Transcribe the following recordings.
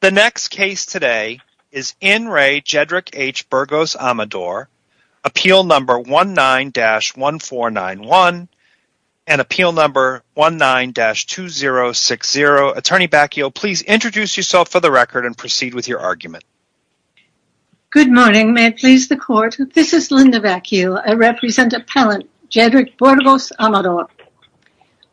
The next case today is In Re. Jedrick H. Burgos Amador. Appeal number 19-1491 and appeal number 19-2060. Attorney Bacchio, please introduce yourself for the record and proceed with your argument. Good morning. May it please the court, this is Linda Bacchio. I represent appellant Jedrick Burgos Amador.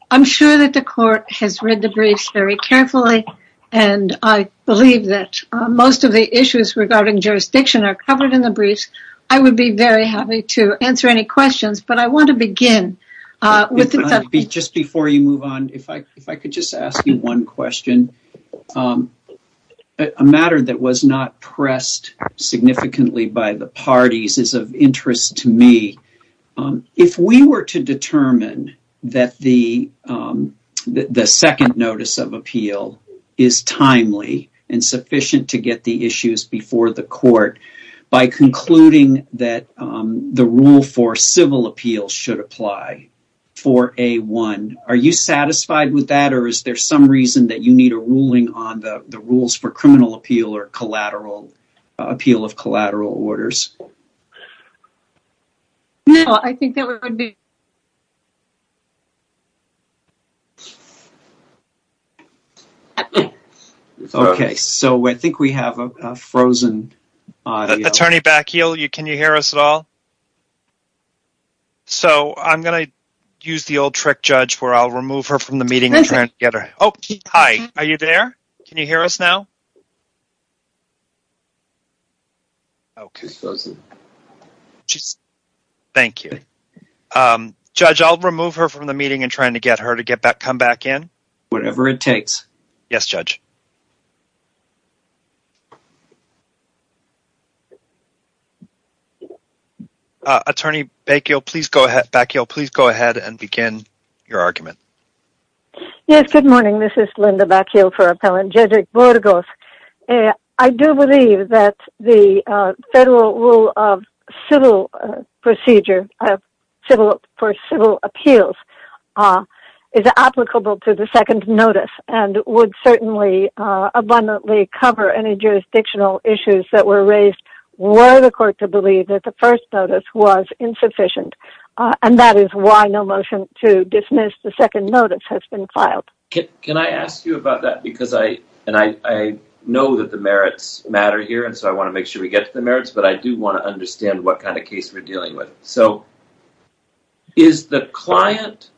I'm sure that the court has read the briefs very carefully, and I believe that most of the issues regarding jurisdiction are covered in the briefs. I would be very happy to answer any questions, but I want to begin. Just before you move on, if I could just ask you one question. A matter that was not pressed significantly by the parties is of interest to me. If we were to determine that the second notice of appeal is timely and sufficient to get the issues before the court, by concluding that the rule for civil appeals should apply for A1, are you satisfied with that or is there some reason that you need a ruling on the rules for criminal appeal or appeal of collateral orders? No, I think that would be... Okay, so I think we have a frozen audio. Attorney Bacchio, can you hear us at all? So, I'm going to use the old trick, Judge, where I'll remove her from the meeting and turn it together. Oh, hi. Are you there? Can you hear us now? Okay. Thank you. Judge, I'll remove her from the meeting and try to get her to come back in. Whatever it takes. Yes, Judge. Attorney Bacchio, please go ahead and begin your argument. Yes, good morning. This is Linda Bacchio for Appellant Judge Burgos. I do believe that the federal rule of civil procedure for civil appeals is applicable to the second notice and would certainly abundantly cover any jurisdictional issues that were raised were the court to believe that the first notice was insufficient. And that is why no motion to dismiss the second notice has been filed. Can I ask you about that? Because I know that the merits matter here, and so I want to make sure we get to the merits, but I do want to understand what kind of case we're dealing with. So, is the client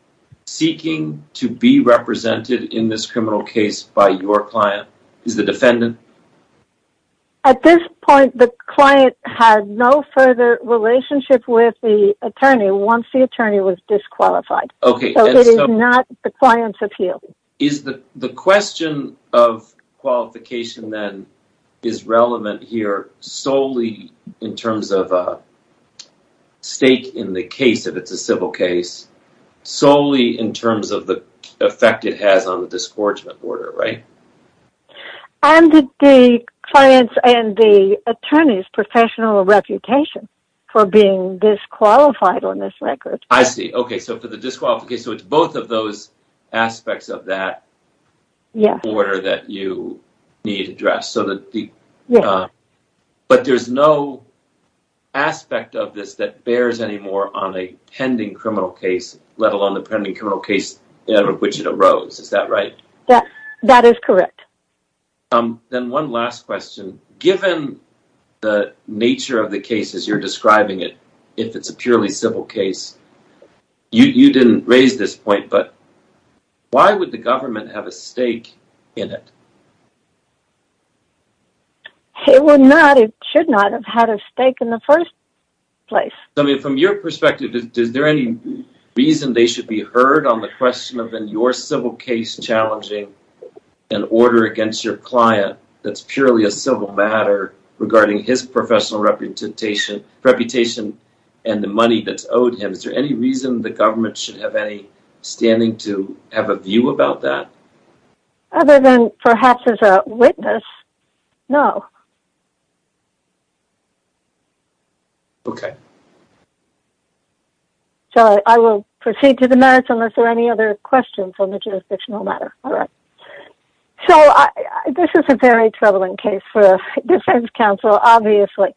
seeking to be represented in this criminal case by your client? Is the defendant? At this point, the client had no further relationship with the attorney once the attorney was disqualified. So, it is not the client's appeal. Is the question of qualification, then, is relevant here solely in terms of a stake in the case, if it's a civil case, solely in terms of the effect it has on the disgorgement order, right? And the client's and the attorney's professional reputation for being disqualified on this record. I see. Okay, so for the disqualified case, so it's both of those aspects of that order that you need to address. But there's no aspect of this that bears any more on a pending criminal case, let alone the pending criminal case out of which it arose. Is that right? That is correct. Then one last question. Given the nature of the case as you're describing it, if it's a purely civil case, you didn't raise this point, but why would the government have a stake in it? It would not, it should not, have had a stake in the first place. So, I mean, from your perspective, is there any reason they should be heard on the question of, in your civil case, challenging an order against your client that's purely a civil matter regarding his professional reputation and the money that's owed him? Is there any reason the government should have any standing to have a view about that? Other than perhaps as a witness, no. Okay. So, I will proceed to the merits unless there are any other questions on the jurisdictional matter. All right. So, this is a very troubling case for a defense counsel, obviously,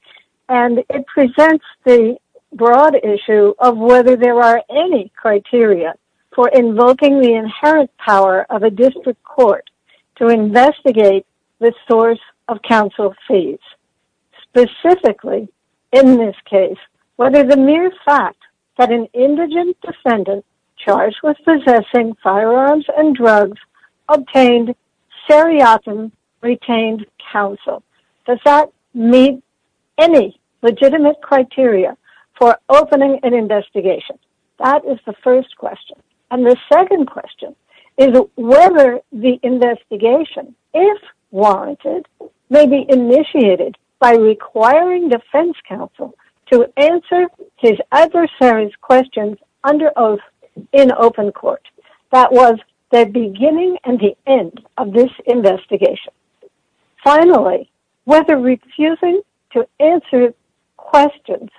and it presents the broad issue of whether there are any criteria for invoking the inherent power of a district court to investigate the source of counsel fees. Specifically, in this case, whether the mere fact that an indigent defendant charged with possessing firearms and drugs obtained seriatim retained counsel. Does that meet any legitimate criteria for opening an investigation? That is the first question. And the second question is whether the investigation, if warranted, may be initiated by requiring defense counsel to answer his adversaries' questions under oath in open court. That was the beginning and the end of this investigation. Finally, whether refusing to answer questions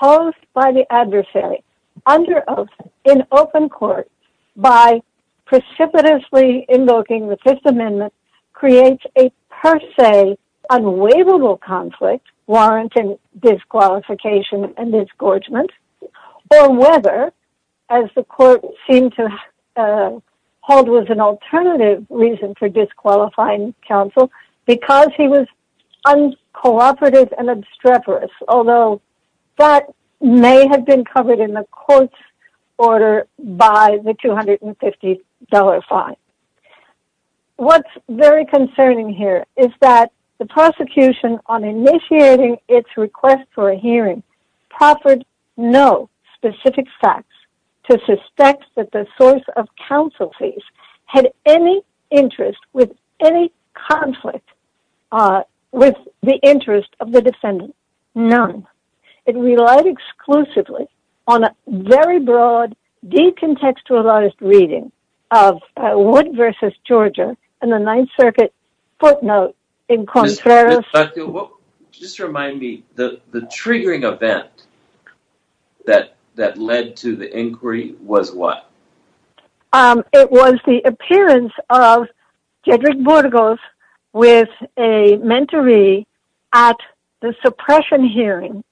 posed by the adversary under oath in open court by precipitously invoking the Fifth Amendment creates a per se unwaivable conflict warranting disqualification and disgorgement, or whether, as the court seemed to hold was an alternative reason for disqualifying counsel because he was uncooperative and obstreperous, although that may have been covered in the court's order by the $250 fine. What's very concerning here is that the prosecution, on initiating its request for a hearing, proffered no specific facts to suspect that the source of counsel fees had any interest with any conflict with the interest of the defendant. None. It relied exclusively on a very broad, decontextualized reading of Wood v. Georgia in the Ninth Circuit footnote in Contreras. Just remind me, the triggering event that led to the inquiry was what? It was the appearance of Cedric Burgos with a mentoree at the suppression hearing.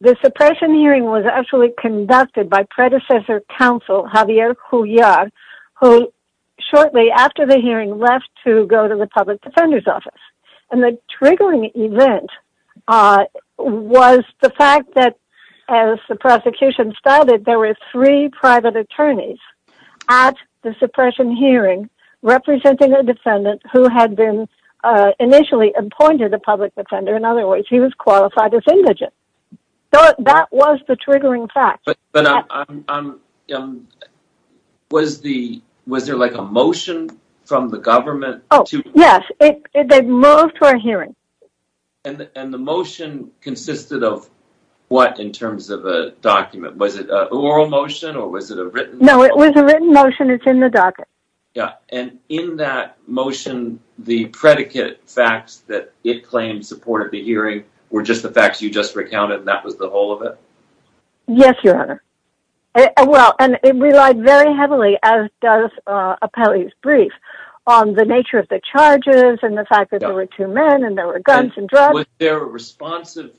The suppression hearing was actually conducted by predecessor counsel Javier Julliar, who shortly after the hearing left to go to the public defender's office. The triggering event was the fact that, as the prosecution stated, there were three private attorneys at the suppression hearing representing a defendant who had been initially appointed a public defender. In other words, he was qualified as indigent. That was the triggering fact. Was there a motion from the government? Yes, they moved to our hearing. And the motion consisted of what in terms of a document? Was it an oral motion or was it a written motion? No, it was a written motion. It's in the docket. And in that motion, the predicate facts that it claimed supported the hearing were just the facts you just recounted and that was the whole of it? Yes, Your Honor. It relied very heavily, as does Apelli's brief, on the nature of the charges and the fact that there were two men and there were guns and drugs. Was there a responsive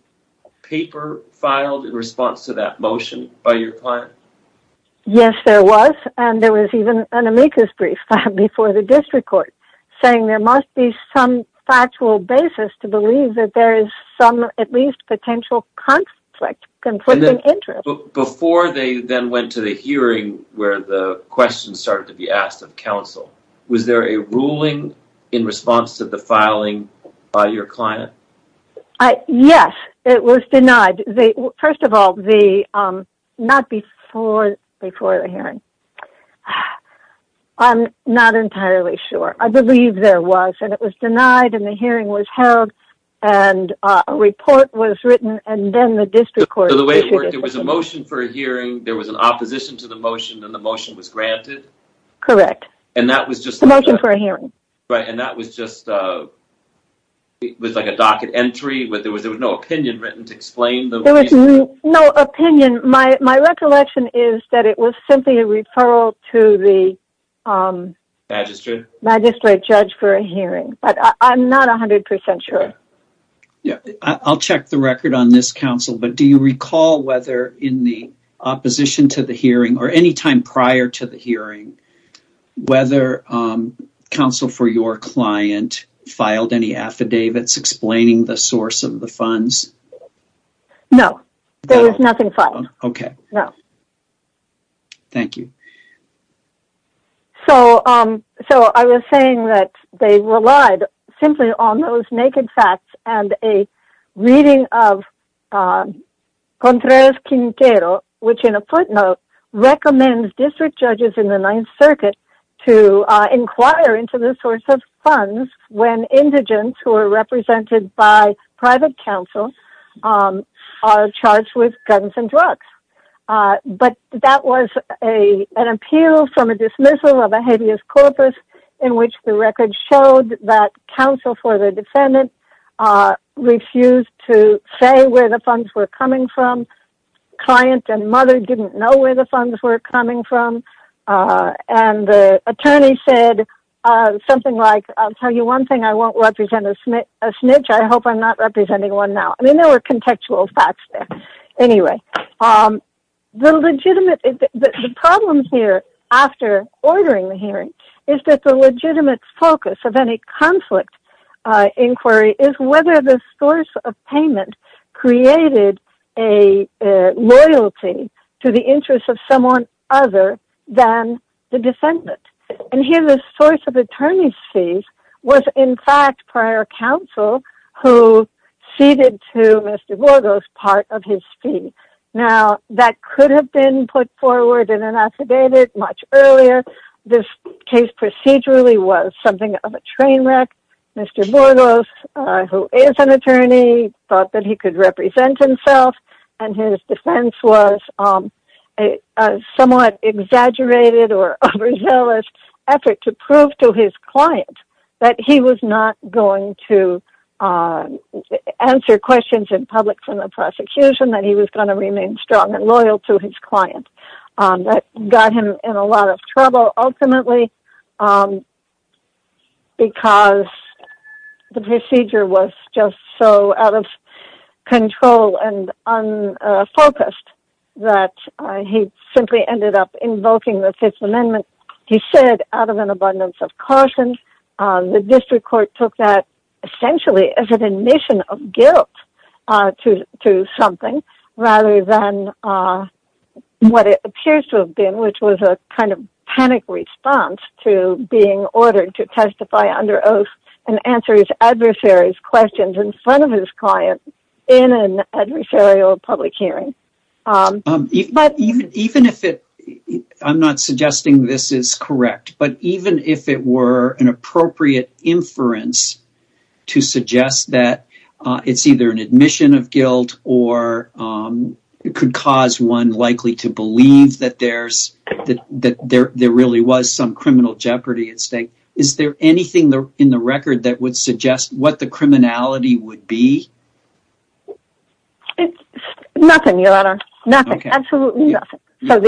paper filed in response to that motion by your client? Yes, there was. And there was even an amicus brief filed before the district court saying there must be some factual basis to believe that there is some, at least, potential conflict, conflicting interest. Before they then went to the hearing where the questions started to be asked of counsel, was there a ruling in response to the filing by your client? Yes, it was denied. First of all, not before the hearing. I'm not entirely sure. I believe there was. And it was denied and the hearing was held and a report was written So the way it worked, there was a motion for a hearing, there was an opposition to the motion, and the motion was granted? Correct. The motion for a hearing. And that was just a docket entry? There was no opinion written to explain the motion? There was no opinion. My recollection is that it was simply a referral to the magistrate judge for a hearing. But I'm not 100% sure. I'll check the record on this, counsel, but do you recall whether in the opposition to the hearing or any time prior to the hearing, whether counsel for your client filed any affidavits explaining the source of the funds? No. There was nothing filed. Okay. No. Thank you. So I was saying that they relied simply on those naked facts and a reading of Contreras-Quintero, which in a footnote recommends district judges in the Ninth Circuit to inquire into the source of funds when indigents who are represented by private counsel are charged with guns and drugs. But that was an appeal from a dismissal of a habeas corpus in which the record showed that counsel for the defendant refused to say where the funds were coming from. Client and mother didn't know where the funds were coming from. And the attorney said something like, I'll tell you one thing, I won't represent a snitch. I hope I'm not representing one now. I mean, there were contextual facts there. Anyway, the problem here after ordering the hearing is that the legitimate focus of any conflict inquiry is whether the source of payment created a loyalty to the interests of someone other than the defendant. And here the source of attorney's fees was in fact prior counsel who ceded to Mr. Borgos part of his fee. Now, that could have been put forward and inactivated much earlier. This case procedurally was something of a train wreck. Mr. Borgos, who is an attorney, thought that he could represent himself. And his defense was a somewhat exaggerated or overzealous effort to prove to his client that he was not going to answer questions in public from the prosecution, that he was going to remain strong and loyal to his client. That got him in a lot of trouble ultimately because the procedure was just so out of control and unfocused that he simply ended up invoking the Fifth Amendment. He said, out of an abundance of caution, the district court took that essentially as an admission of guilt to something rather than what it appears to have been, which was a kind of panic response to being ordered to testify under oath and answer his adversary's questions in front of his client in an adversarial public hearing. I'm not suggesting this is correct, but even if it were an appropriate inference to suggest that it's either an admission of guilt or it could cause one likely to believe that there really was some criminal jeopardy at stake, is there anything in the record that would suggest what the criminality would be? Nothing, Your Honor. Nothing, absolutely nothing. It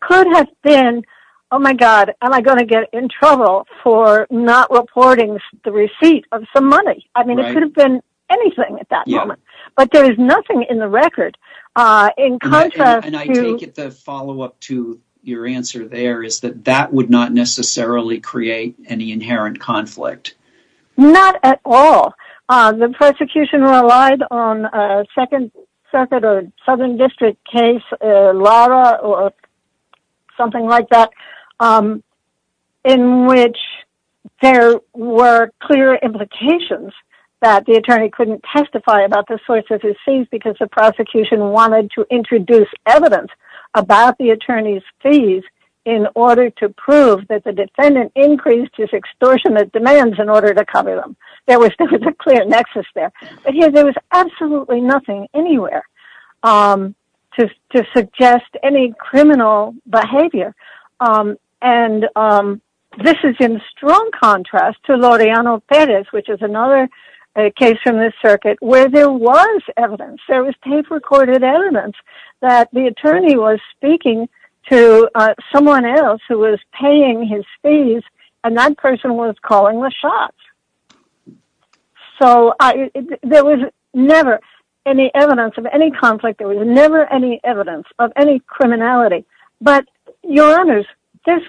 could have been, oh my god, am I going to get in trouble for not reporting the receipt of some money? I mean, it could have been anything at that moment, but there is nothing in the record in contrast to... And I take it the follow-up to your answer there is that that would not necessarily create any inherent conflict. Not at all. The prosecution relied on a Second Circuit or Southern District case, Lara or something like that, in which there were clear implications that the attorney couldn't testify about the source of his fees because the prosecution wanted to introduce evidence about the attorney's fees in order to prove that the defendant increased his extortionate demands in order to cover them. There was a clear nexus there. But here there was absolutely nothing anywhere to suggest any criminal behavior. And this is in strong contrast to Laureano Perez, which is another case from the circuit where there was evidence, there was tape-recorded evidence that the attorney was speaking to someone else who was paying his fees and that person was calling the shots. So there was never any evidence of any conflict. There was never any evidence of any criminality. But, Your Honors, this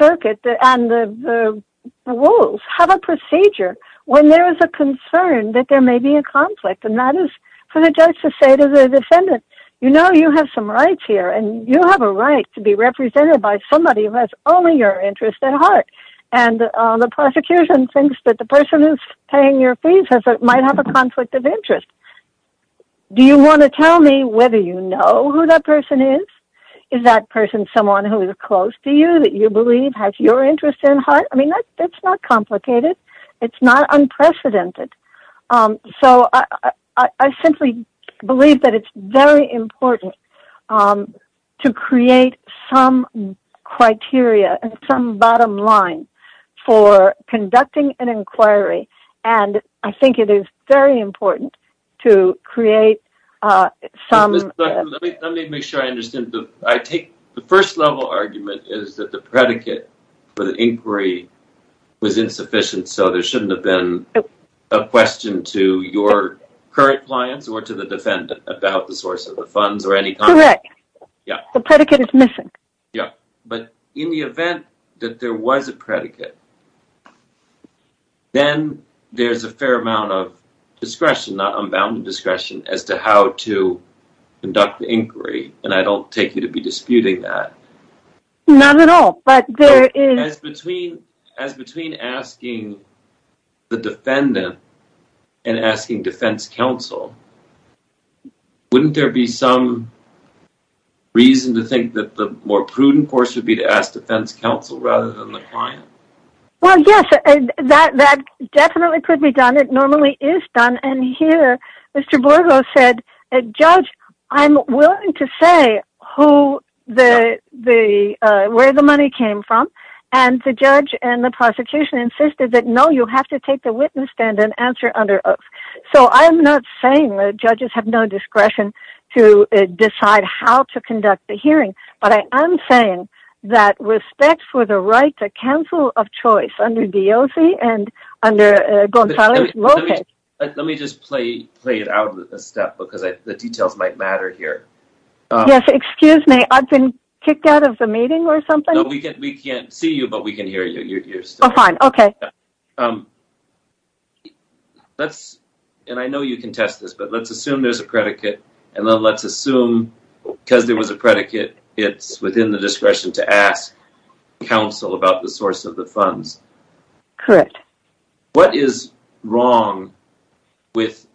circuit and the rules have a procedure when there is a concern that there may be a conflict, and that is for the judge to say to the defendant, you know you have some rights here, and you have a right to be represented by somebody who has only your interest at heart. And the prosecution thinks that the person who's paying your fees might have a conflict of interest. Do you want to tell me whether you know who that person is? Is that person someone who is close to you that you believe has your interest at heart? I mean, that's not complicated. It's not unprecedented. So I simply believe that it's very important to create some criteria and some bottom line for conducting an inquiry, and I think it is very important to create some... Let me make sure I understand. I take the first level argument is that the predicate for the inquiry was insufficient, so there shouldn't have been a question to your current clients or to the defendant about the source of the funds or any... Correct. The predicate is missing. Yeah. But in the event that there was a predicate, then there's a fair amount of discretion, not unbounded discretion, as to how to conduct the inquiry, and I don't take you to be disputing that. Not at all, but there is... As between asking the defendant and asking defense counsel, wouldn't there be some reason to think that the more prudent course would be to ask defense counsel rather than the client? Well, yes, that definitely could be done. It normally is done. And here, Mr. Borgo said, Judge, I'm willing to say where the money came from, and the judge and the prosecution insisted that, no, you have to take the witness stand and answer under oath. So I'm not saying that judges have no discretion to decide how to conduct the hearing, but I am saying that respect for the right to counsel of choice under DOC and under Gonzales Lopez... Let me just play it out a step, because the details might matter here. Yes, excuse me. I've been kicked out of the meeting or something? No, we can't see you, but we can hear you. Oh, fine. Okay. And I know you can test this, but let's assume there's a predicate, and then let's assume, because there was a predicate, it's within the discretion to ask counsel about the source of the funds. Correct. What is wrong with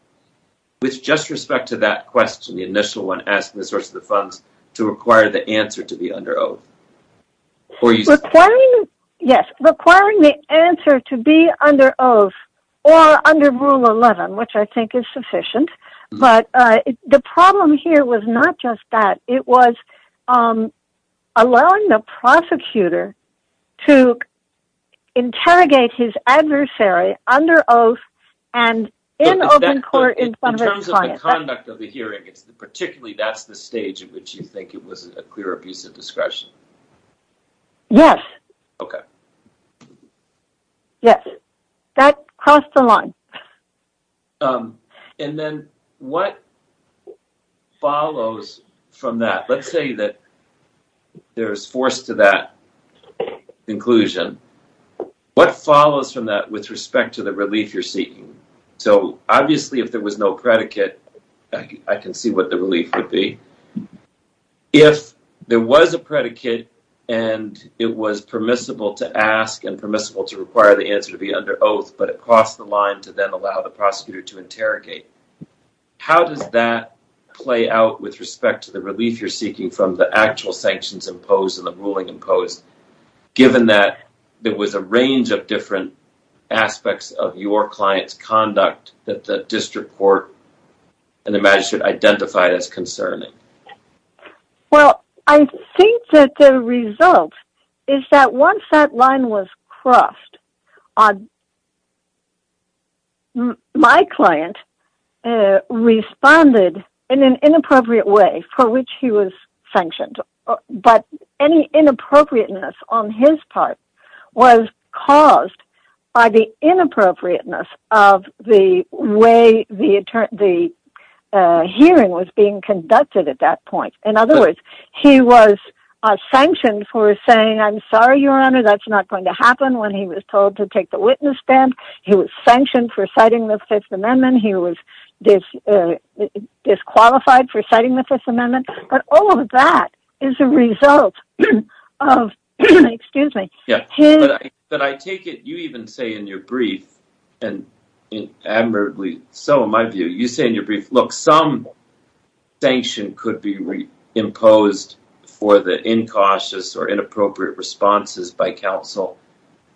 just respect to that question, the initial one, asking the source of the funds, to require the answer to be under oath? Yes, requiring the answer to be under oath or under Rule 11, which I think is sufficient. But the problem here was not just that. It was allowing the prosecutor to interrogate his adversary under oath and in open court in front of his client. Particularly, that's the stage in which you think it was a clear abuse of discretion. Yes. Okay. Yes. That crossed the line. And then what follows from that? Let's say that there's force to that conclusion. What follows from that with respect to the relief you're seeking? So, obviously, if there was no predicate, I can see what the relief would be. If there was a predicate and it was permissible to ask and permissible to require the answer to be under oath, but it crossed the line to then allow the prosecutor to interrogate, how does that play out with respect to the relief you're seeking from the actual sanctions imposed and the ruling imposed, given that there was a range of different aspects of your client's conduct that the district court and the magistrate identified as concerning? Well, I think that the result is that once that line was crossed, my client responded in an inappropriate way for which he was sanctioned. But any inappropriateness on his part was caused by the inappropriateness of the way the hearing was being conducted at that point. In other words, he was sanctioned for saying, I'm sorry, Your Honor, that's not going to happen when he was told to take the witness stand. He was sanctioned for citing the Fifth Amendment. But all of that is a result of his... But I take it you even say in your brief, and admirably so in my view, you say in your brief, look, some sanction could be imposed for the incautious or inappropriate responses by counsel,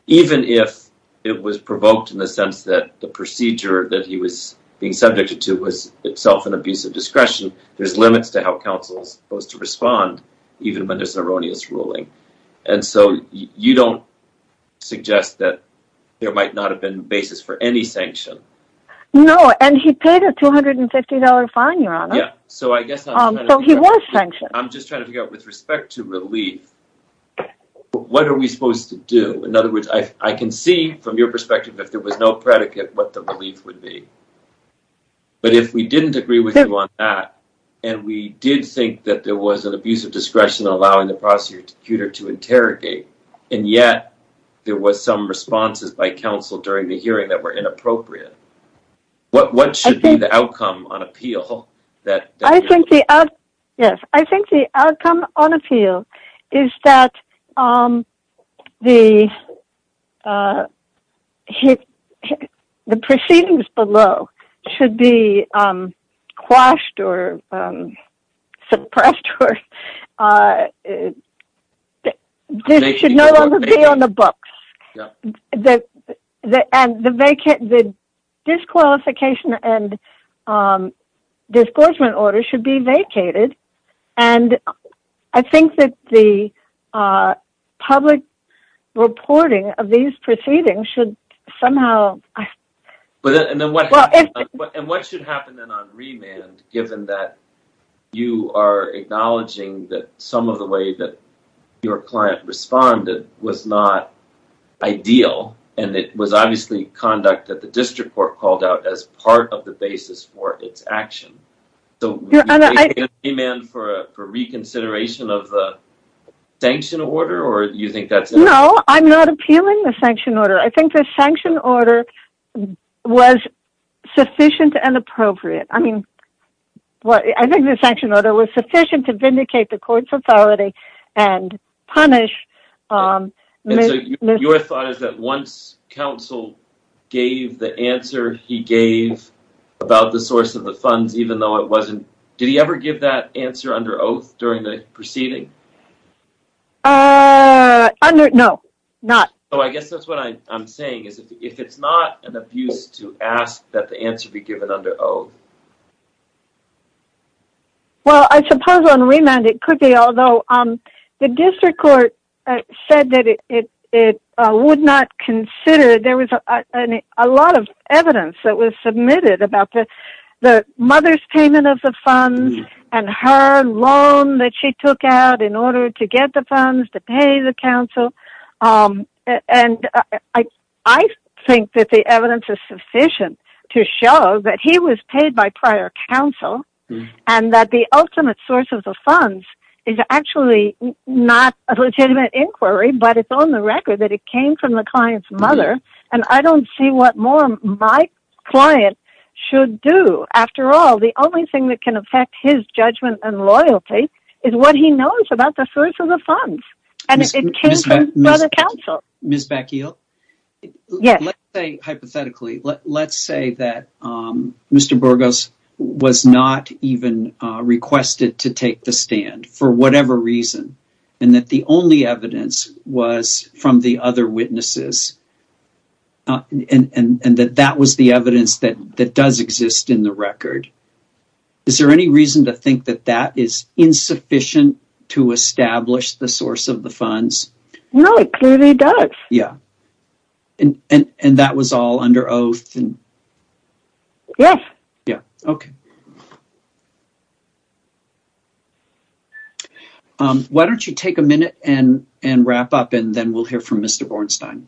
even if it was provoked in the sense that the procedure that he was being subjected to was itself an abuse of discretion. There's limits to how counsel is supposed to respond, even when there's an erroneous ruling. And so you don't suggest that there might not have been a basis for any sanction. No, and he paid a $250 fine, Your Honor. So I guess... So he was sanctioned. I'm just trying to figure out with respect to relief, what are we supposed to do? In other words, I can see from your perspective, if there was no predicate, what the relief would be. But if we didn't agree with you on that, and we did think that there was an abuse of discretion allowing the prosecutor to interrogate, and yet there was some responses by counsel during the hearing that were inappropriate, what should be the outcome on appeal? I think the outcome on appeal is that the proceedings below should be quashed or suppressed. This should no longer be on the books. And the disqualification and disgorgement order should be vacated. And I think that the public reporting of these proceedings should somehow... And what should happen then on remand, given that you are acknowledging that some of the way that your client responded was not ideal, and it was obviously conduct that the district court called out as part of the basis for its action. So would you make a remand for reconsideration of the sanction order, or do you think that's... No, I'm not appealing the sanction order. I think the sanction order was sufficient and appropriate. I mean, I think the sanction order was sufficient to vindicate the court's authority and punish... And so your thought is that once counsel gave the answer he gave about the source of the funds, even though it wasn't... Did he ever give that answer under oath during the proceeding? No, not... So I guess that's what I'm saying, is if it's not an abuse to ask that the answer be given under oath... Well, I suppose on remand it could be, although the district court said that it would not consider... There was a lot of evidence that was submitted about the mother's payment of the funds and her loan that she took out in order to get the funds to pay the counsel. And I think that the evidence is sufficient to show that he was paid by prior counsel, and that the ultimate source of the funds is actually not a legitimate inquiry. But it's on the record that it came from the client's mother, and I don't see what more my client should do. After all, the only thing that can affect his judgment and loyalty is what he knows about the source of the funds. And it came from brother counsel. Ms. Bacchial, hypothetically, let's say that Mr. Burgos was not even requested to take the stand for whatever reason, and that the only evidence was from the other witnesses, and that that was the evidence that does exist in the record. Is there any reason to think that that is insufficient to establish the source of the funds? No, it clearly does. And that was all under oath? Yes. Why don't you take a minute and wrap up, and then we'll hear from Mr. Bornstein.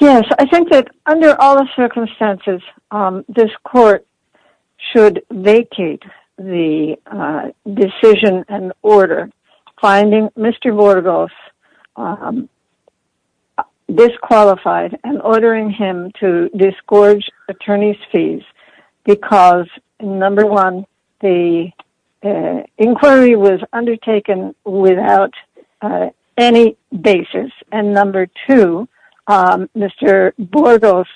Yes, I think that under all the circumstances, this court should vacate the decision and order finding Mr. Burgos disqualified, and ordering him to disgorge attorney's fees, because number one, the inquiry was undertaken without any basis, and number two, Mr. Burgos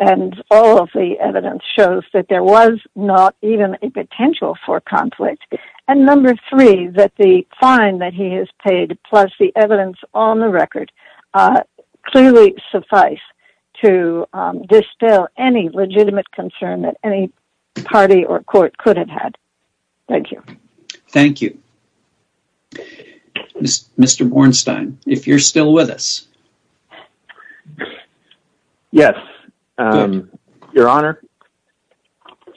and all of the evidence shows that there was not even a potential for conflict, and number three, that the fine that he has paid, plus the evidence on the record, clearly suffice to distill any legitimate concern that any party or court could have had. Thank you. Thank you. Mr. Bornstein, if you're still with us. Yes, Your Honor,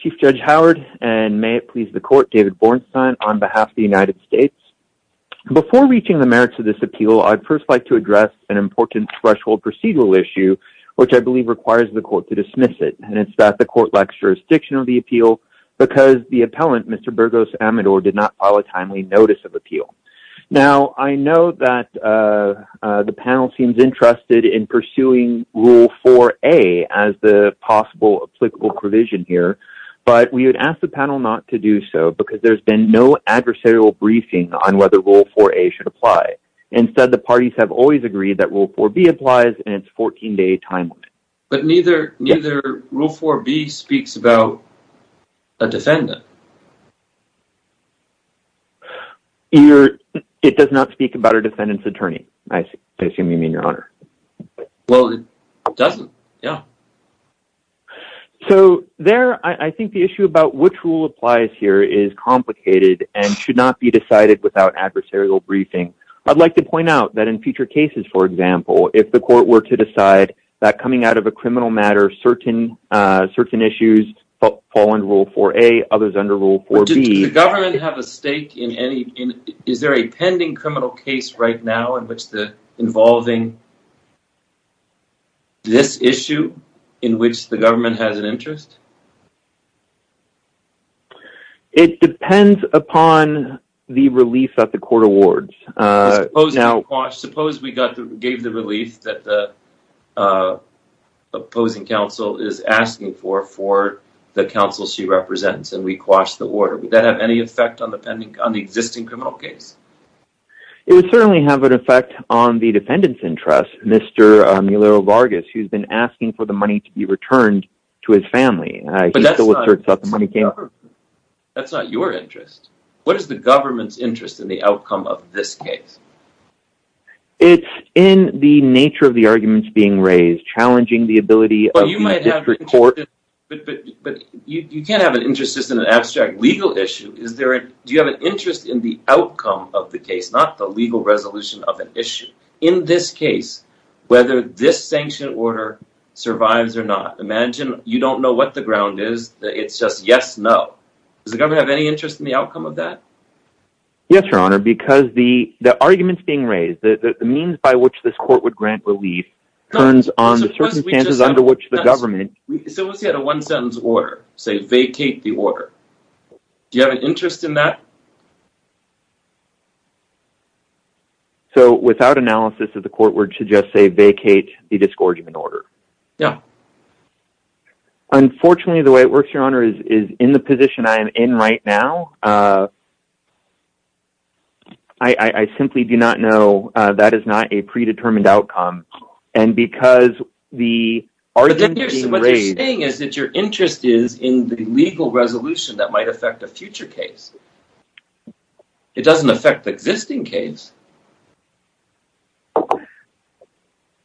Chief Judge Howard, and may it please the court, David Bornstein, on behalf of the United States. Before reaching the merits of this appeal, I'd first like to address an important threshold procedural issue, which I believe requires the court to dismiss it, and it's that the court lacks jurisdiction of the appeal, because the appellant, Mr. Burgos Amador, did not file a timely notice of appeal. Now, I know that the panel seems interested in pursuing Rule 4A as the possible applicable provision here, but we would ask the panel not to do so, because there's been no adversarial briefing on whether Rule 4A should apply. Instead, the parties have always agreed that Rule 4B applies, and it's a 14-day timeline. But neither Rule 4B speaks about a defendant. It does not speak about a defendant's attorney, I assume you mean, Your Honor. Well, it doesn't, yeah. So there, I think the issue about which rule applies here is complicated and should not be decided without adversarial briefing. I'd like to point out that in future cases, for example, if the court were to decide that coming out of a criminal matter, certain issues fall under Rule 4A, others under Rule 4B. Does the government have a stake in any, is there a pending criminal case right now involving this issue in which the government has an interest? It depends upon the relief that the court awards. Suppose we gave the relief that the opposing counsel is asking for, for the counsel she represents, and we quashed the order. Would that have any effect on the existing criminal case? It would certainly have an effect on the defendant's interest, Mr. Mueller-Vargas, who's been asking for the money to be returned to his family. But that's not your interest. What is the government's interest in the outcome of this case? It's in the nature of the arguments being raised, challenging the ability of the district court... But you might have an interest, but you can't have an interest just in an abstract legal issue. Do you have an interest in the outcome of the case, not the legal resolution of an issue? In this case, whether this sanctioned order survives or not, imagine you don't know what the ground is, it's just yes, no. Does the government have any interest in the outcome of that? Yes, Your Honor, because the arguments being raised, the means by which this court would grant relief, turns on the circumstances under which the government... Suppose we had a one-sentence order, say, vacate the order. Do you have an interest in that? So, without analysis, the court would suggest, say, vacate the disgorgement order? Yeah. Unfortunately, the way it works, Your Honor, is in the position I am in right now. I simply do not know. That is not a predetermined outcome. And because the arguments being raised... What you're saying is that your interest is in the legal resolution that might affect a future case. It doesn't affect the existing case.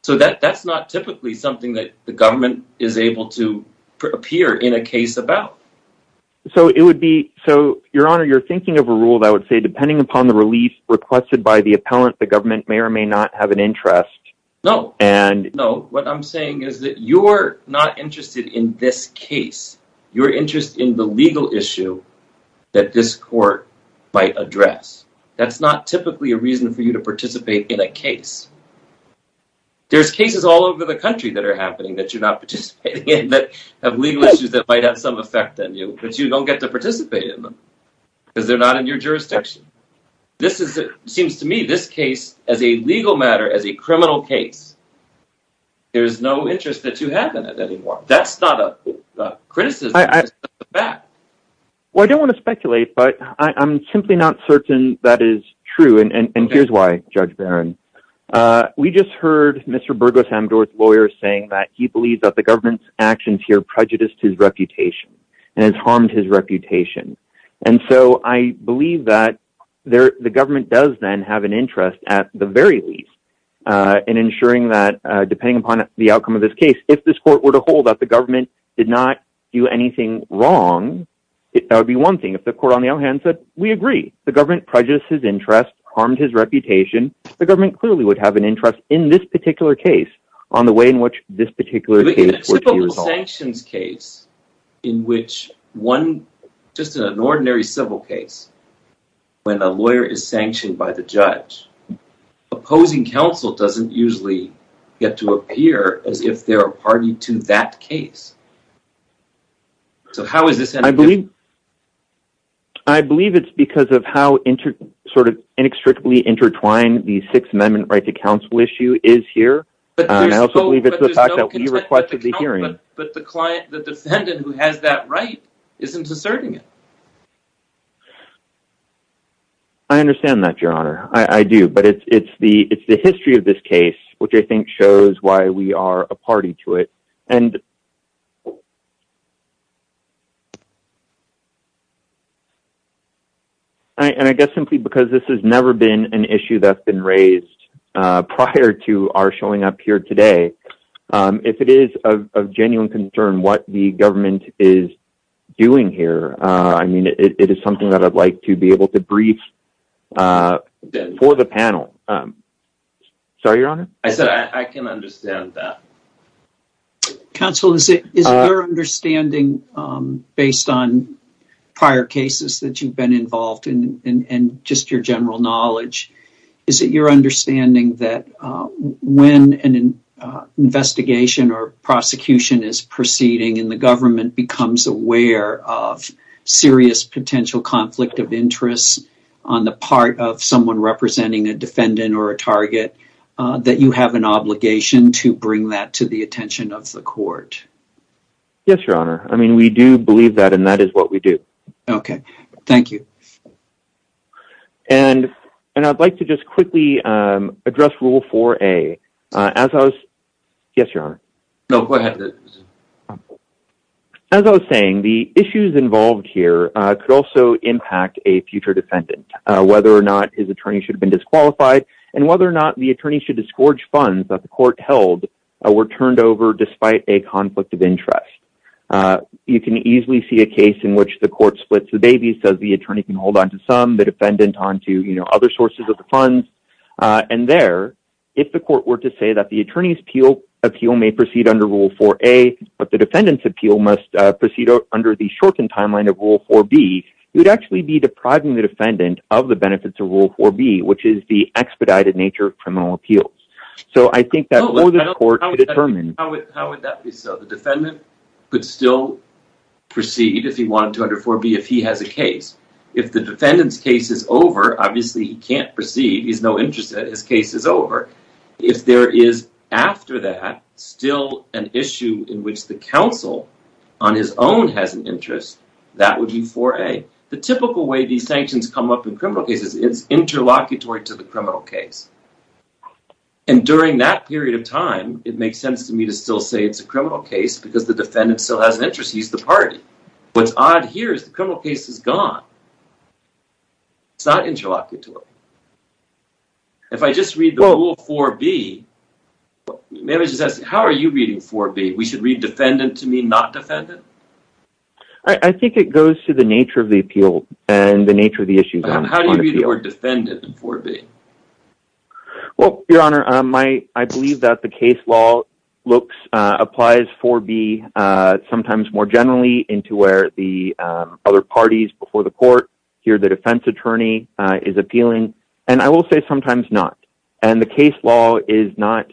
So that's not typically something that the government is able to appear in a case about. So, Your Honor, you're thinking of a rule that would say, depending upon the relief requested by the appellant, the government may or may not have an interest. No. No. What I'm saying is that you're not interested in this case. You're interested in the legal issue that this court might address. That's not typically a reason for you to participate in a case. There's cases all over the country that are happening that you're not participating in that have legal issues that might have some effect on you. But you don't get to participate in them because they're not in your jurisdiction. This seems to me, this case, as a legal matter, as a criminal case, there's no interest that you have in it anymore. That's not a criticism. Well, I don't want to speculate, but I'm simply not certain that is true. And here's why, Judge Barron. We just heard Mr. Burgos Amdor's lawyer saying that he believes that the government's actions here prejudiced his reputation and has harmed his reputation. And so I believe that the government does, then, have an interest, at the very least, in ensuring that, depending upon the outcome of this case, if this court were to hold that the government did not do anything wrong, that would be one thing. If the court, on the other hand, said, we agree, the government prejudiced his interest, harmed his reputation, the government clearly would have an interest in this particular case on the way in which this particular case would be resolved. But in a sanctions case, in which one, just in an ordinary civil case, when a lawyer is sanctioned by the judge, opposing counsel doesn't usually get to appear as if they're a party to that case. So how is this any different? I believe it's because of how sort of inextricably intertwined the Sixth Amendment right to counsel issue is here. And I also believe it's the fact that we requested the hearing. But the defendant who has that right isn't asserting it. I understand that, Your Honor. I do. But it's the history of this case which I think shows why we are a party to it. And I guess simply because this has never been an issue that's been raised prior to our showing up here today, if it is of genuine concern what the government is doing here, I mean, it is something that I'd like to be able to brief for the panel. Sorry, Your Honor? I said I can understand that. Counsel, is it your understanding, based on prior cases that you've been involved in and just your general knowledge, is it your understanding that when an investigation or prosecution is proceeding and the government becomes aware of serious potential conflict of interest on the part of someone representing a defendant or a target, that you have an obligation to bring that to the attention of the court? Yes, Your Honor. I mean, we do believe that, and that is what we do. Okay. Thank you. And I'd like to just quickly address Rule 4A. Yes, Your Honor? No, go ahead. As I was saying, the issues involved here could also impact a future defendant, whether or not his attorney should have been disqualified, and whether or not the attorney should disgorge funds that the court held were turned over despite a conflict of interest. You can easily see a case in which the court splits the babies, says the attorney can hold onto some, the defendant onto other sources of the funds. And there, if the court were to say that the attorney's appeal may proceed under Rule 4A, but the defendant's appeal must proceed under the shortened timeline of Rule 4B, you'd actually be depriving the defendant of the benefits of Rule 4B, which is the expedited nature of criminal appeals. So I think that for the court to determine… How would that be so? The defendant could still proceed if he wanted to under 4B if he has a case. If the defendant's case is over, obviously he can't proceed. He has no interest in it. His case is over. If there is, after that, still an issue in which the counsel on his own has an interest, that would be 4A. The typical way these sanctions come up in criminal cases is interlocutory to the criminal case. And during that period of time, it makes sense to me to still say it's a criminal case because the defendant still has an interest. He's the party. What's odd here is the criminal case is gone. It's not interlocutory. If I just read the Rule 4B… How are you reading 4B? We should read defendant to mean not defendant? I think it goes to the nature of the appeal and the nature of the issue. How do you read the word defendant in 4B? Well, Your Honor, I believe that the case law applies 4B sometimes more generally into where the other parties before the court hear the defense attorney is appealing. And I will say sometimes not. And the case law is not…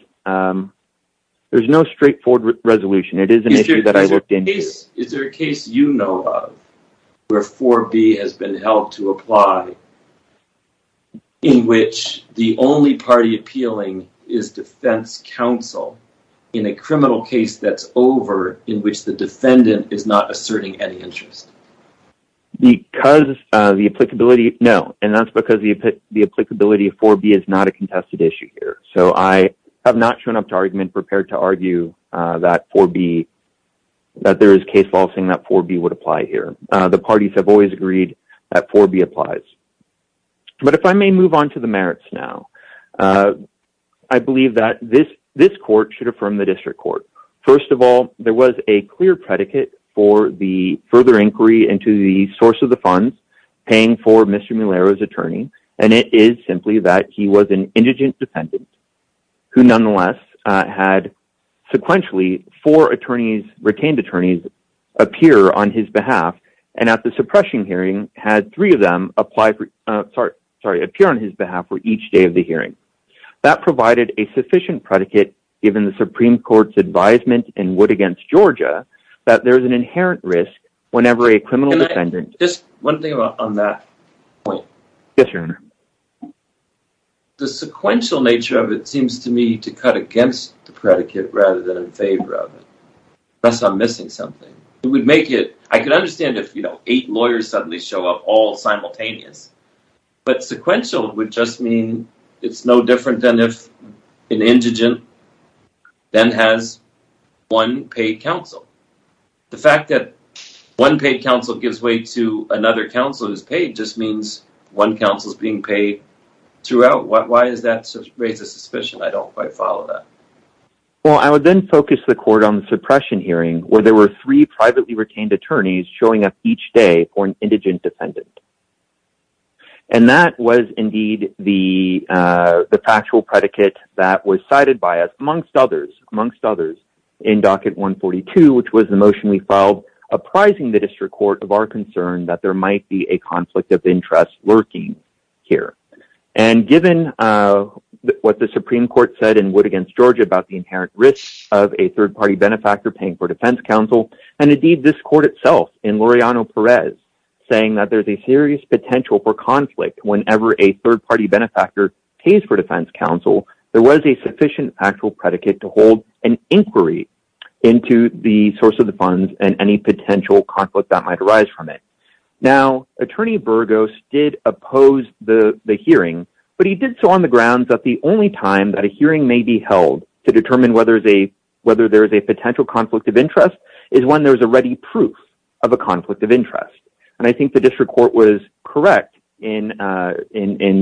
There's no straightforward resolution. It is an issue that I looked into. Is there a case you know of where 4B has been held to apply in which the only party appealing is defense counsel in a criminal case that's over in which the defendant is not asserting any interest? Because the applicability… No, and that's because the applicability of 4B is not a contested issue here. So, I have not shown up to argument prepared to argue that 4B… That there is case law saying that 4B would apply here. The parties have always agreed that 4B applies. But if I may move on to the merits now. I believe that this court should affirm the district court. First of all, there was a clear predicate for the further inquiry into the source of the funds paying for Mr. Mulero's attorney. And it is simply that he was an indigent defendant who nonetheless had sequentially four attorneys, retained attorneys, appear on his behalf. And at the suppression hearing had three of them apply for… Sorry, appear on his behalf for each day of the hearing. That provided a sufficient predicate given the Supreme Court's advisement in Wood v. Georgia that there's an inherent risk whenever a criminal defendant… Can I… Just one thing on that point. Yes, your honor. The sequential nature of it seems to me to cut against the predicate rather than in favor of it. Unless I'm missing something. It would make it… I can understand if, you know, eight lawyers suddenly show up all simultaneous. But sequential would just mean it's no different than if an indigent then has one paid counsel. The fact that one paid counsel gives way to another counsel who's paid just means one counsel's being paid throughout. Why does that raise a suspicion? I don't quite follow that. Well, I would then focus the court on the suppression hearing where there were three privately retained attorneys showing up each day for an indigent defendant. And that was indeed the factual predicate that was cited by us, amongst others, in Docket 142, which was the motion we filed uprising the district court of our concern that there might be a conflict of interest lurking here. And given what the Supreme Court said in Wood v. Georgia about the inherent risk of a third-party benefactor paying for defense counsel, and indeed this court itself in Laureano-Perez saying that there's a serious potential for conflict whenever a third-party benefactor pays for defense counsel, there was a sufficient actual predicate to hold an inquiry into the source of the funds and any potential conflict that might arise from it. Now, Attorney Burgos did oppose the hearing, but he did so on the grounds that the only time that a hearing may be held to determine whether there's a potential conflict of interest is when there's already proof of a conflict of interest. And I think the district court was correct in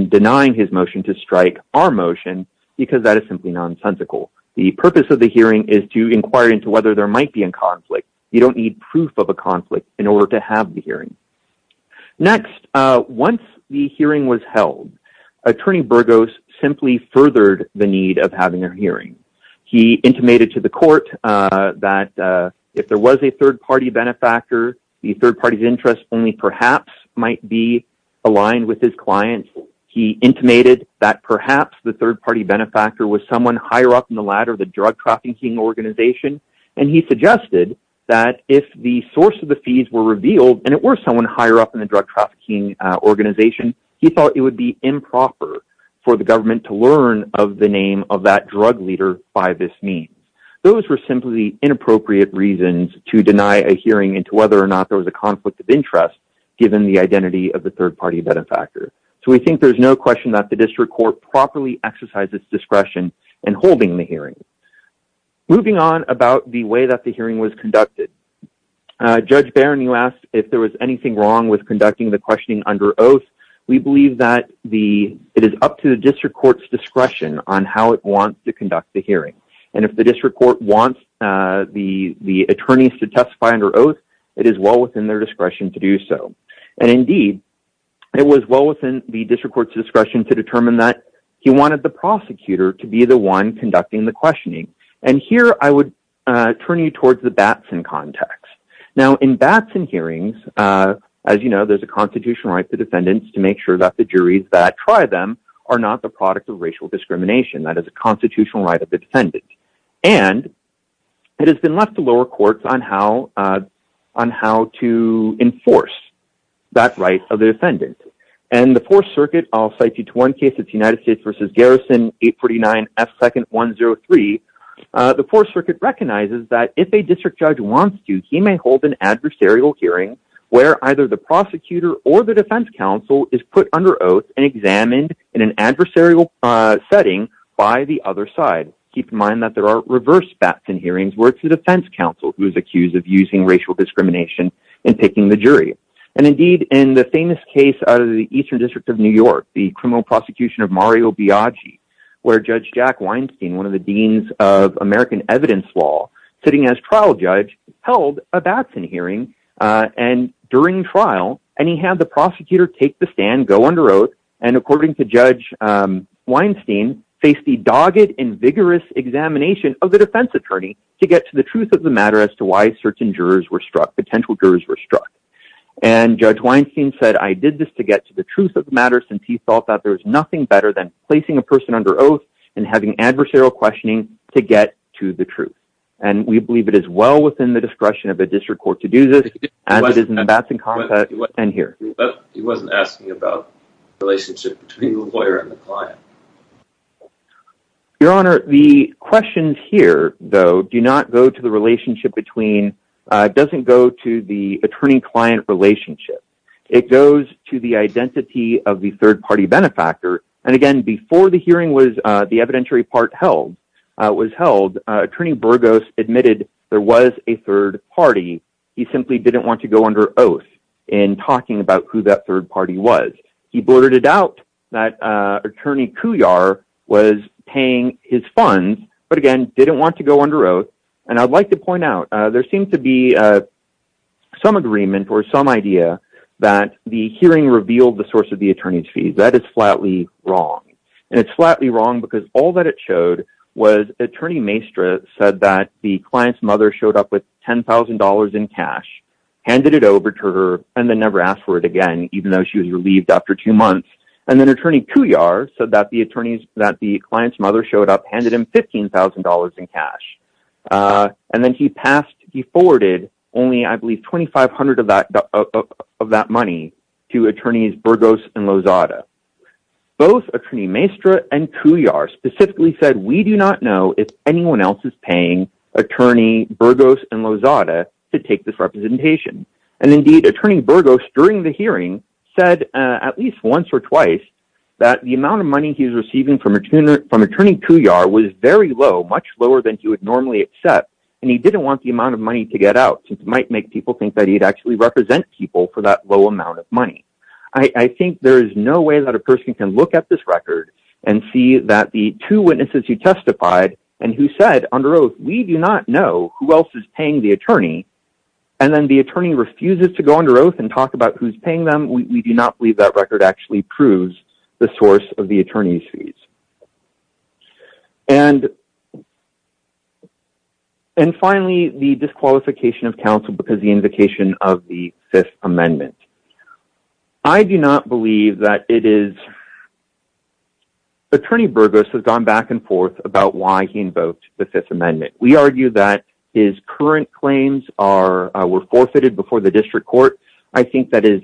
denying his motion to strike our motion because that is simply nonsensical. The purpose of the hearing is to inquire into whether there might be a conflict. You don't need proof of a conflict in order to have the hearing. Next, once the hearing was held, Attorney Burgos simply furthered the need of having a hearing. He intimated to the court that if there was a third-party benefactor, the third-party's interest only perhaps might be aligned with his client's. He intimated that perhaps the third-party benefactor was someone higher up in the ladder of the drug trafficking organization, and he suggested that if the source of the fees were revealed and it were someone higher up in the drug trafficking organization, he thought it would be improper for the government to learn of the name of that drug leader by this means. Those were simply inappropriate reasons to deny a hearing into whether or not there was a conflict of interest given the identity of the third-party benefactor. So we think there's no question that the district court properly exercised its discretion in holding the hearing. Moving on about the way that the hearing was conducted. Judge Barron, you asked if there was anything wrong with conducting the questioning under oath. We believe that it is up to the district court's discretion on how it wants to conduct the hearing. And if the district court wants the attorneys to testify under oath, it is well within their discretion to do so. And indeed, it was well within the district court's discretion to determine that he wanted the prosecutor to be the one conducting the questioning. And here I would turn you towards the Batson context. Now, in Batson hearings, as you know, there's a constitutional right for defendants to make sure that the juries that try them are not the product of racial discrimination. That is a constitutional right of the defendant. And it has been left to lower courts on how to enforce that right of the defendant. And the Fourth Circuit, I'll cite you to one case, it's United States v. Garrison, 849 F. 2nd 103. The Fourth Circuit recognizes that if a district judge wants to, he may hold an adversarial hearing where either the prosecutor or the defense counsel is put under oath and examined in an adversarial setting by the other side. Keep in mind that there are reverse Batson hearings where it's the defense counsel who is accused of using racial discrimination in picking the jury. And indeed, in the famous case out of the Eastern District of New York, the criminal prosecution of Mario Biaggi, where Judge Jack Weinstein, one of the deans of American evidence law, sitting as trial judge, held a Batson hearing. And during trial, and he had the prosecutor take the stand, go under oath, and according to Judge Weinstein, face the dogged and vigorous examination of the defense attorney to get to the truth of the matter as to why certain jurors were struck, potential jurors were struck. And Judge Weinstein said, I did this to get to the truth of the matter since he thought that there was nothing better than placing a person under oath and having adversarial questioning to get to the truth. And we believe it is well within the discretion of the district court to do this, as it is in the Batson context and here. He wasn't asking about the relationship between the lawyer and the client. Your Honor, the questions here, though, do not go to the relationship between doesn't go to the attorney client relationship. It goes to the identity of the third party benefactor. And again, before the hearing was the evidentiary part held was held. Attorney Burgos admitted there was a third party. He simply didn't want to go under oath in talking about who that third party was. He blurted it out that Attorney Couillard was paying his funds, but again, didn't want to go under oath. And I'd like to point out there seems to be some agreement or some idea that the hearing revealed the source of the attorney's fees. That is flatly wrong. And it's flatly wrong because all that it showed was Attorney Maestra said that the client's mother showed up with ten thousand dollars in cash, handed it over to her and then never asked for it again, even though she was relieved after two months. And then Attorney Couillard said that the attorneys that the client's mother showed up, handed him fifteen thousand dollars in cash. And then he passed. He forwarded only, I believe, twenty five hundred of that of that money to attorneys Burgos and Lozada. Both Attorney Maestra and Couillard specifically said, we do not know if anyone else is paying Attorney Burgos and Lozada to take this representation. And indeed, Attorney Burgos, during the hearing, said at least once or twice that the amount of money he was receiving from Attorney Couillard was very low, much lower than he would normally accept. And he didn't want the amount of money to get out. It might make people think that he'd actually represent people for that low amount of money. I think there is no way that a person can look at this record and see that the two witnesses who testified and who said under oath, we do not know who else is paying the attorney. And then the attorney refuses to go under oath and talk about who's paying them. We do not believe that record actually proves the source of the attorney's fees. And. And finally, the disqualification of counsel because the invocation of the Fifth Amendment. I do not believe that it is. Attorney Burgos has gone back and forth about why he invoked the Fifth Amendment. We argue that his current claims are were forfeited before the district court. I think that is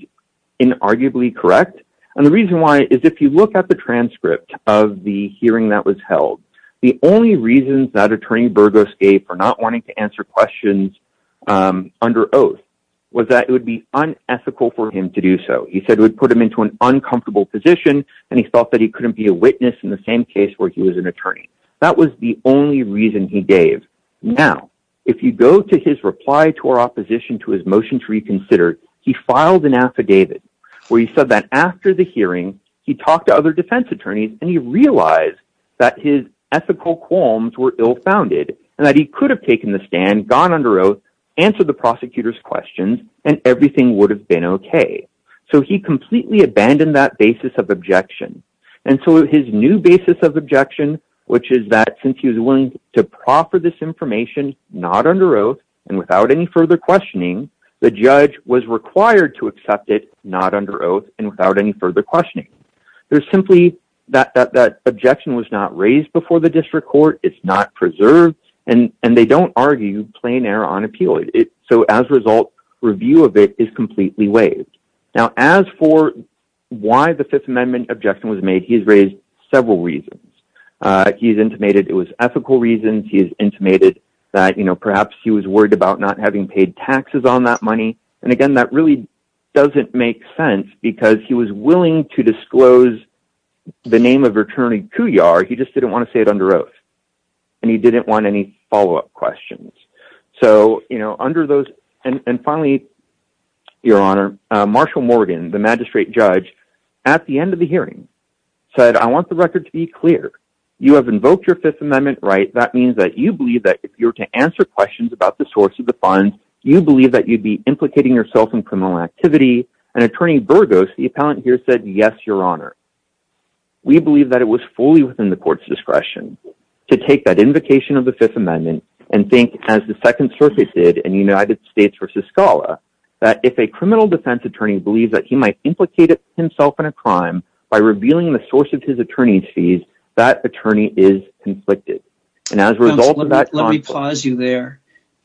inarguably correct. And the reason why is if you look at the transcript of the hearing that was held, the only reasons that Attorney Burgos gave for not wanting to answer questions under oath was that it would be unethical for him to do so. He said it would put him into an uncomfortable position and he felt that he couldn't be a witness in the same case where he was an attorney. That was the only reason he gave. Now, if you go to his reply to our opposition to his motion to reconsider, he filed an affidavit where he said that after the hearing, he talked to other defense attorneys and he realized that his ethical qualms were ill founded and that he could have taken the stand, gone under oath, answer the prosecutor's questions and everything would have been OK. So he completely abandoned that basis of objection. And so his new basis of objection, which is that since he was willing to proffer this information, not under oath and without any further questioning, the judge was required to accept it, not under oath and without any further questioning. There's simply that that objection was not raised before the district court. It's not preserved and and they don't argue plain air on appeal. So as a result, review of it is completely waived. Now, as for why the Fifth Amendment objection was made, he's raised several reasons. He's intimated it was ethical reasons. He is intimated that, you know, perhaps he was worried about not having paid taxes on that money. And again, that really doesn't make sense because he was willing to disclose the name of returning to your. He just didn't want to say it under oath and he didn't want any follow up questions. So, you know, under those and finally, your honor, Marshall Morgan, the magistrate judge at the end of the hearing said, I want the record to be clear. You have invoked your Fifth Amendment right. That means that you believe that if you were to answer questions about the source of the funds, you believe that you'd be implicating yourself in criminal activity. And Attorney Burgos, the appellant here, said, yes, your honor. We believe that it was fully within the court's discretion to take that invocation of the Fifth Amendment and think as the second surface did in the United States versus Scala, that if a criminal defense attorney believes that he might implicate himself in a crime by revealing the source of his attorney's fees, that attorney is conflicted. And as a result of that, let me pause you there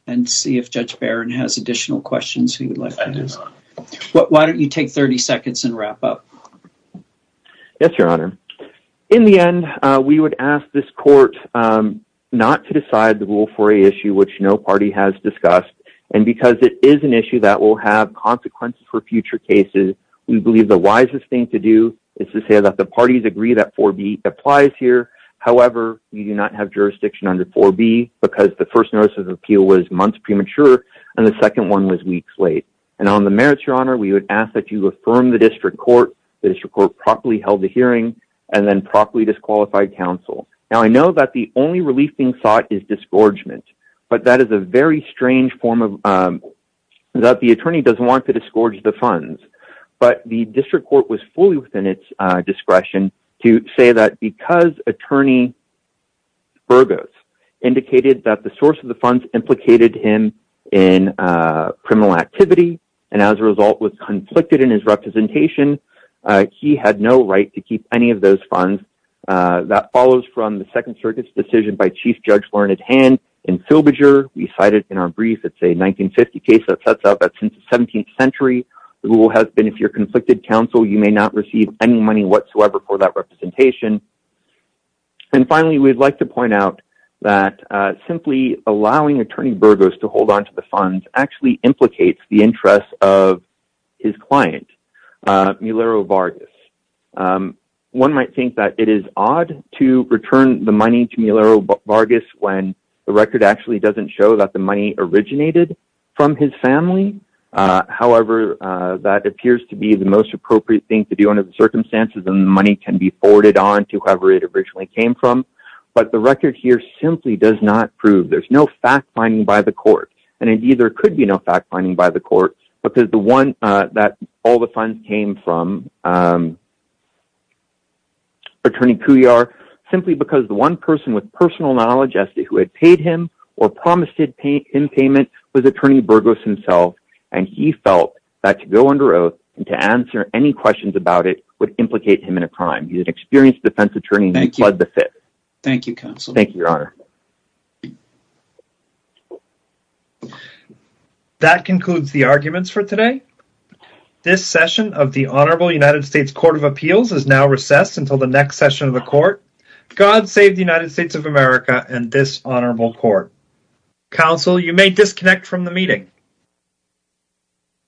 and see if Judge Barron has additional questions. Why don't you take 30 seconds and wrap up? Yes, your honor. In the end, we would ask this court not to decide the rule for a issue which no party has discussed. And because it is an issue that will have consequences for future cases, we believe the wisest thing to do is to say that the parties agree that four B applies here. However, you do not have jurisdiction under four B because the first notice of appeal was months premature and the second one was weeks late. And on the merits, your honor, we would ask that you affirm the district court, the district court properly held the hearing and then properly disqualified counsel. Now, I know that the only relief being sought is disgorgement, but that is a very strange form of that. The attorney doesn't want to disgorge the funds, but the district court was fully within its discretion to say that because attorney. Burgos indicated that the source of the funds implicated him in criminal activity and as a result was conflicted in his representation, he had no right to keep any of those funds that follows from the Second Circuit's decision by Chief Judge Learned Hand. We cited in our brief, it's a 1950 case that sets up that since the 17th century rule has been, if you're conflicted counsel, you may not receive any money whatsoever for that representation. And finally, we'd like to point out that simply allowing attorney Burgos to hold on to the funds actually implicates the interest of his client, Milero Vargas. One might think that it is odd to return the money to Milero Vargas when the record actually doesn't show that the money originated from his family. However, that appears to be the most appropriate thing to do under the circumstances and money can be forwarded on to whoever it originally came from. But the record here simply does not prove there's no fact finding by the court. And indeed, there could be no fact finding by the court because the one that all the funds came from attorney Pujar, simply because the one person with personal knowledge as to who had paid him or promised him payment was attorney Burgos himself. And he felt that to go under oath and to answer any questions about it would implicate him in a crime. He's an experienced defense attorney. Thank you. Thank you, counsel. Thank you, Your Honor. That concludes the arguments for today. This session of the Honorable United States Court of Appeals is now recessed until the next session of the court. God save the United States of America and this honorable court. Counsel, you may disconnect from the meeting.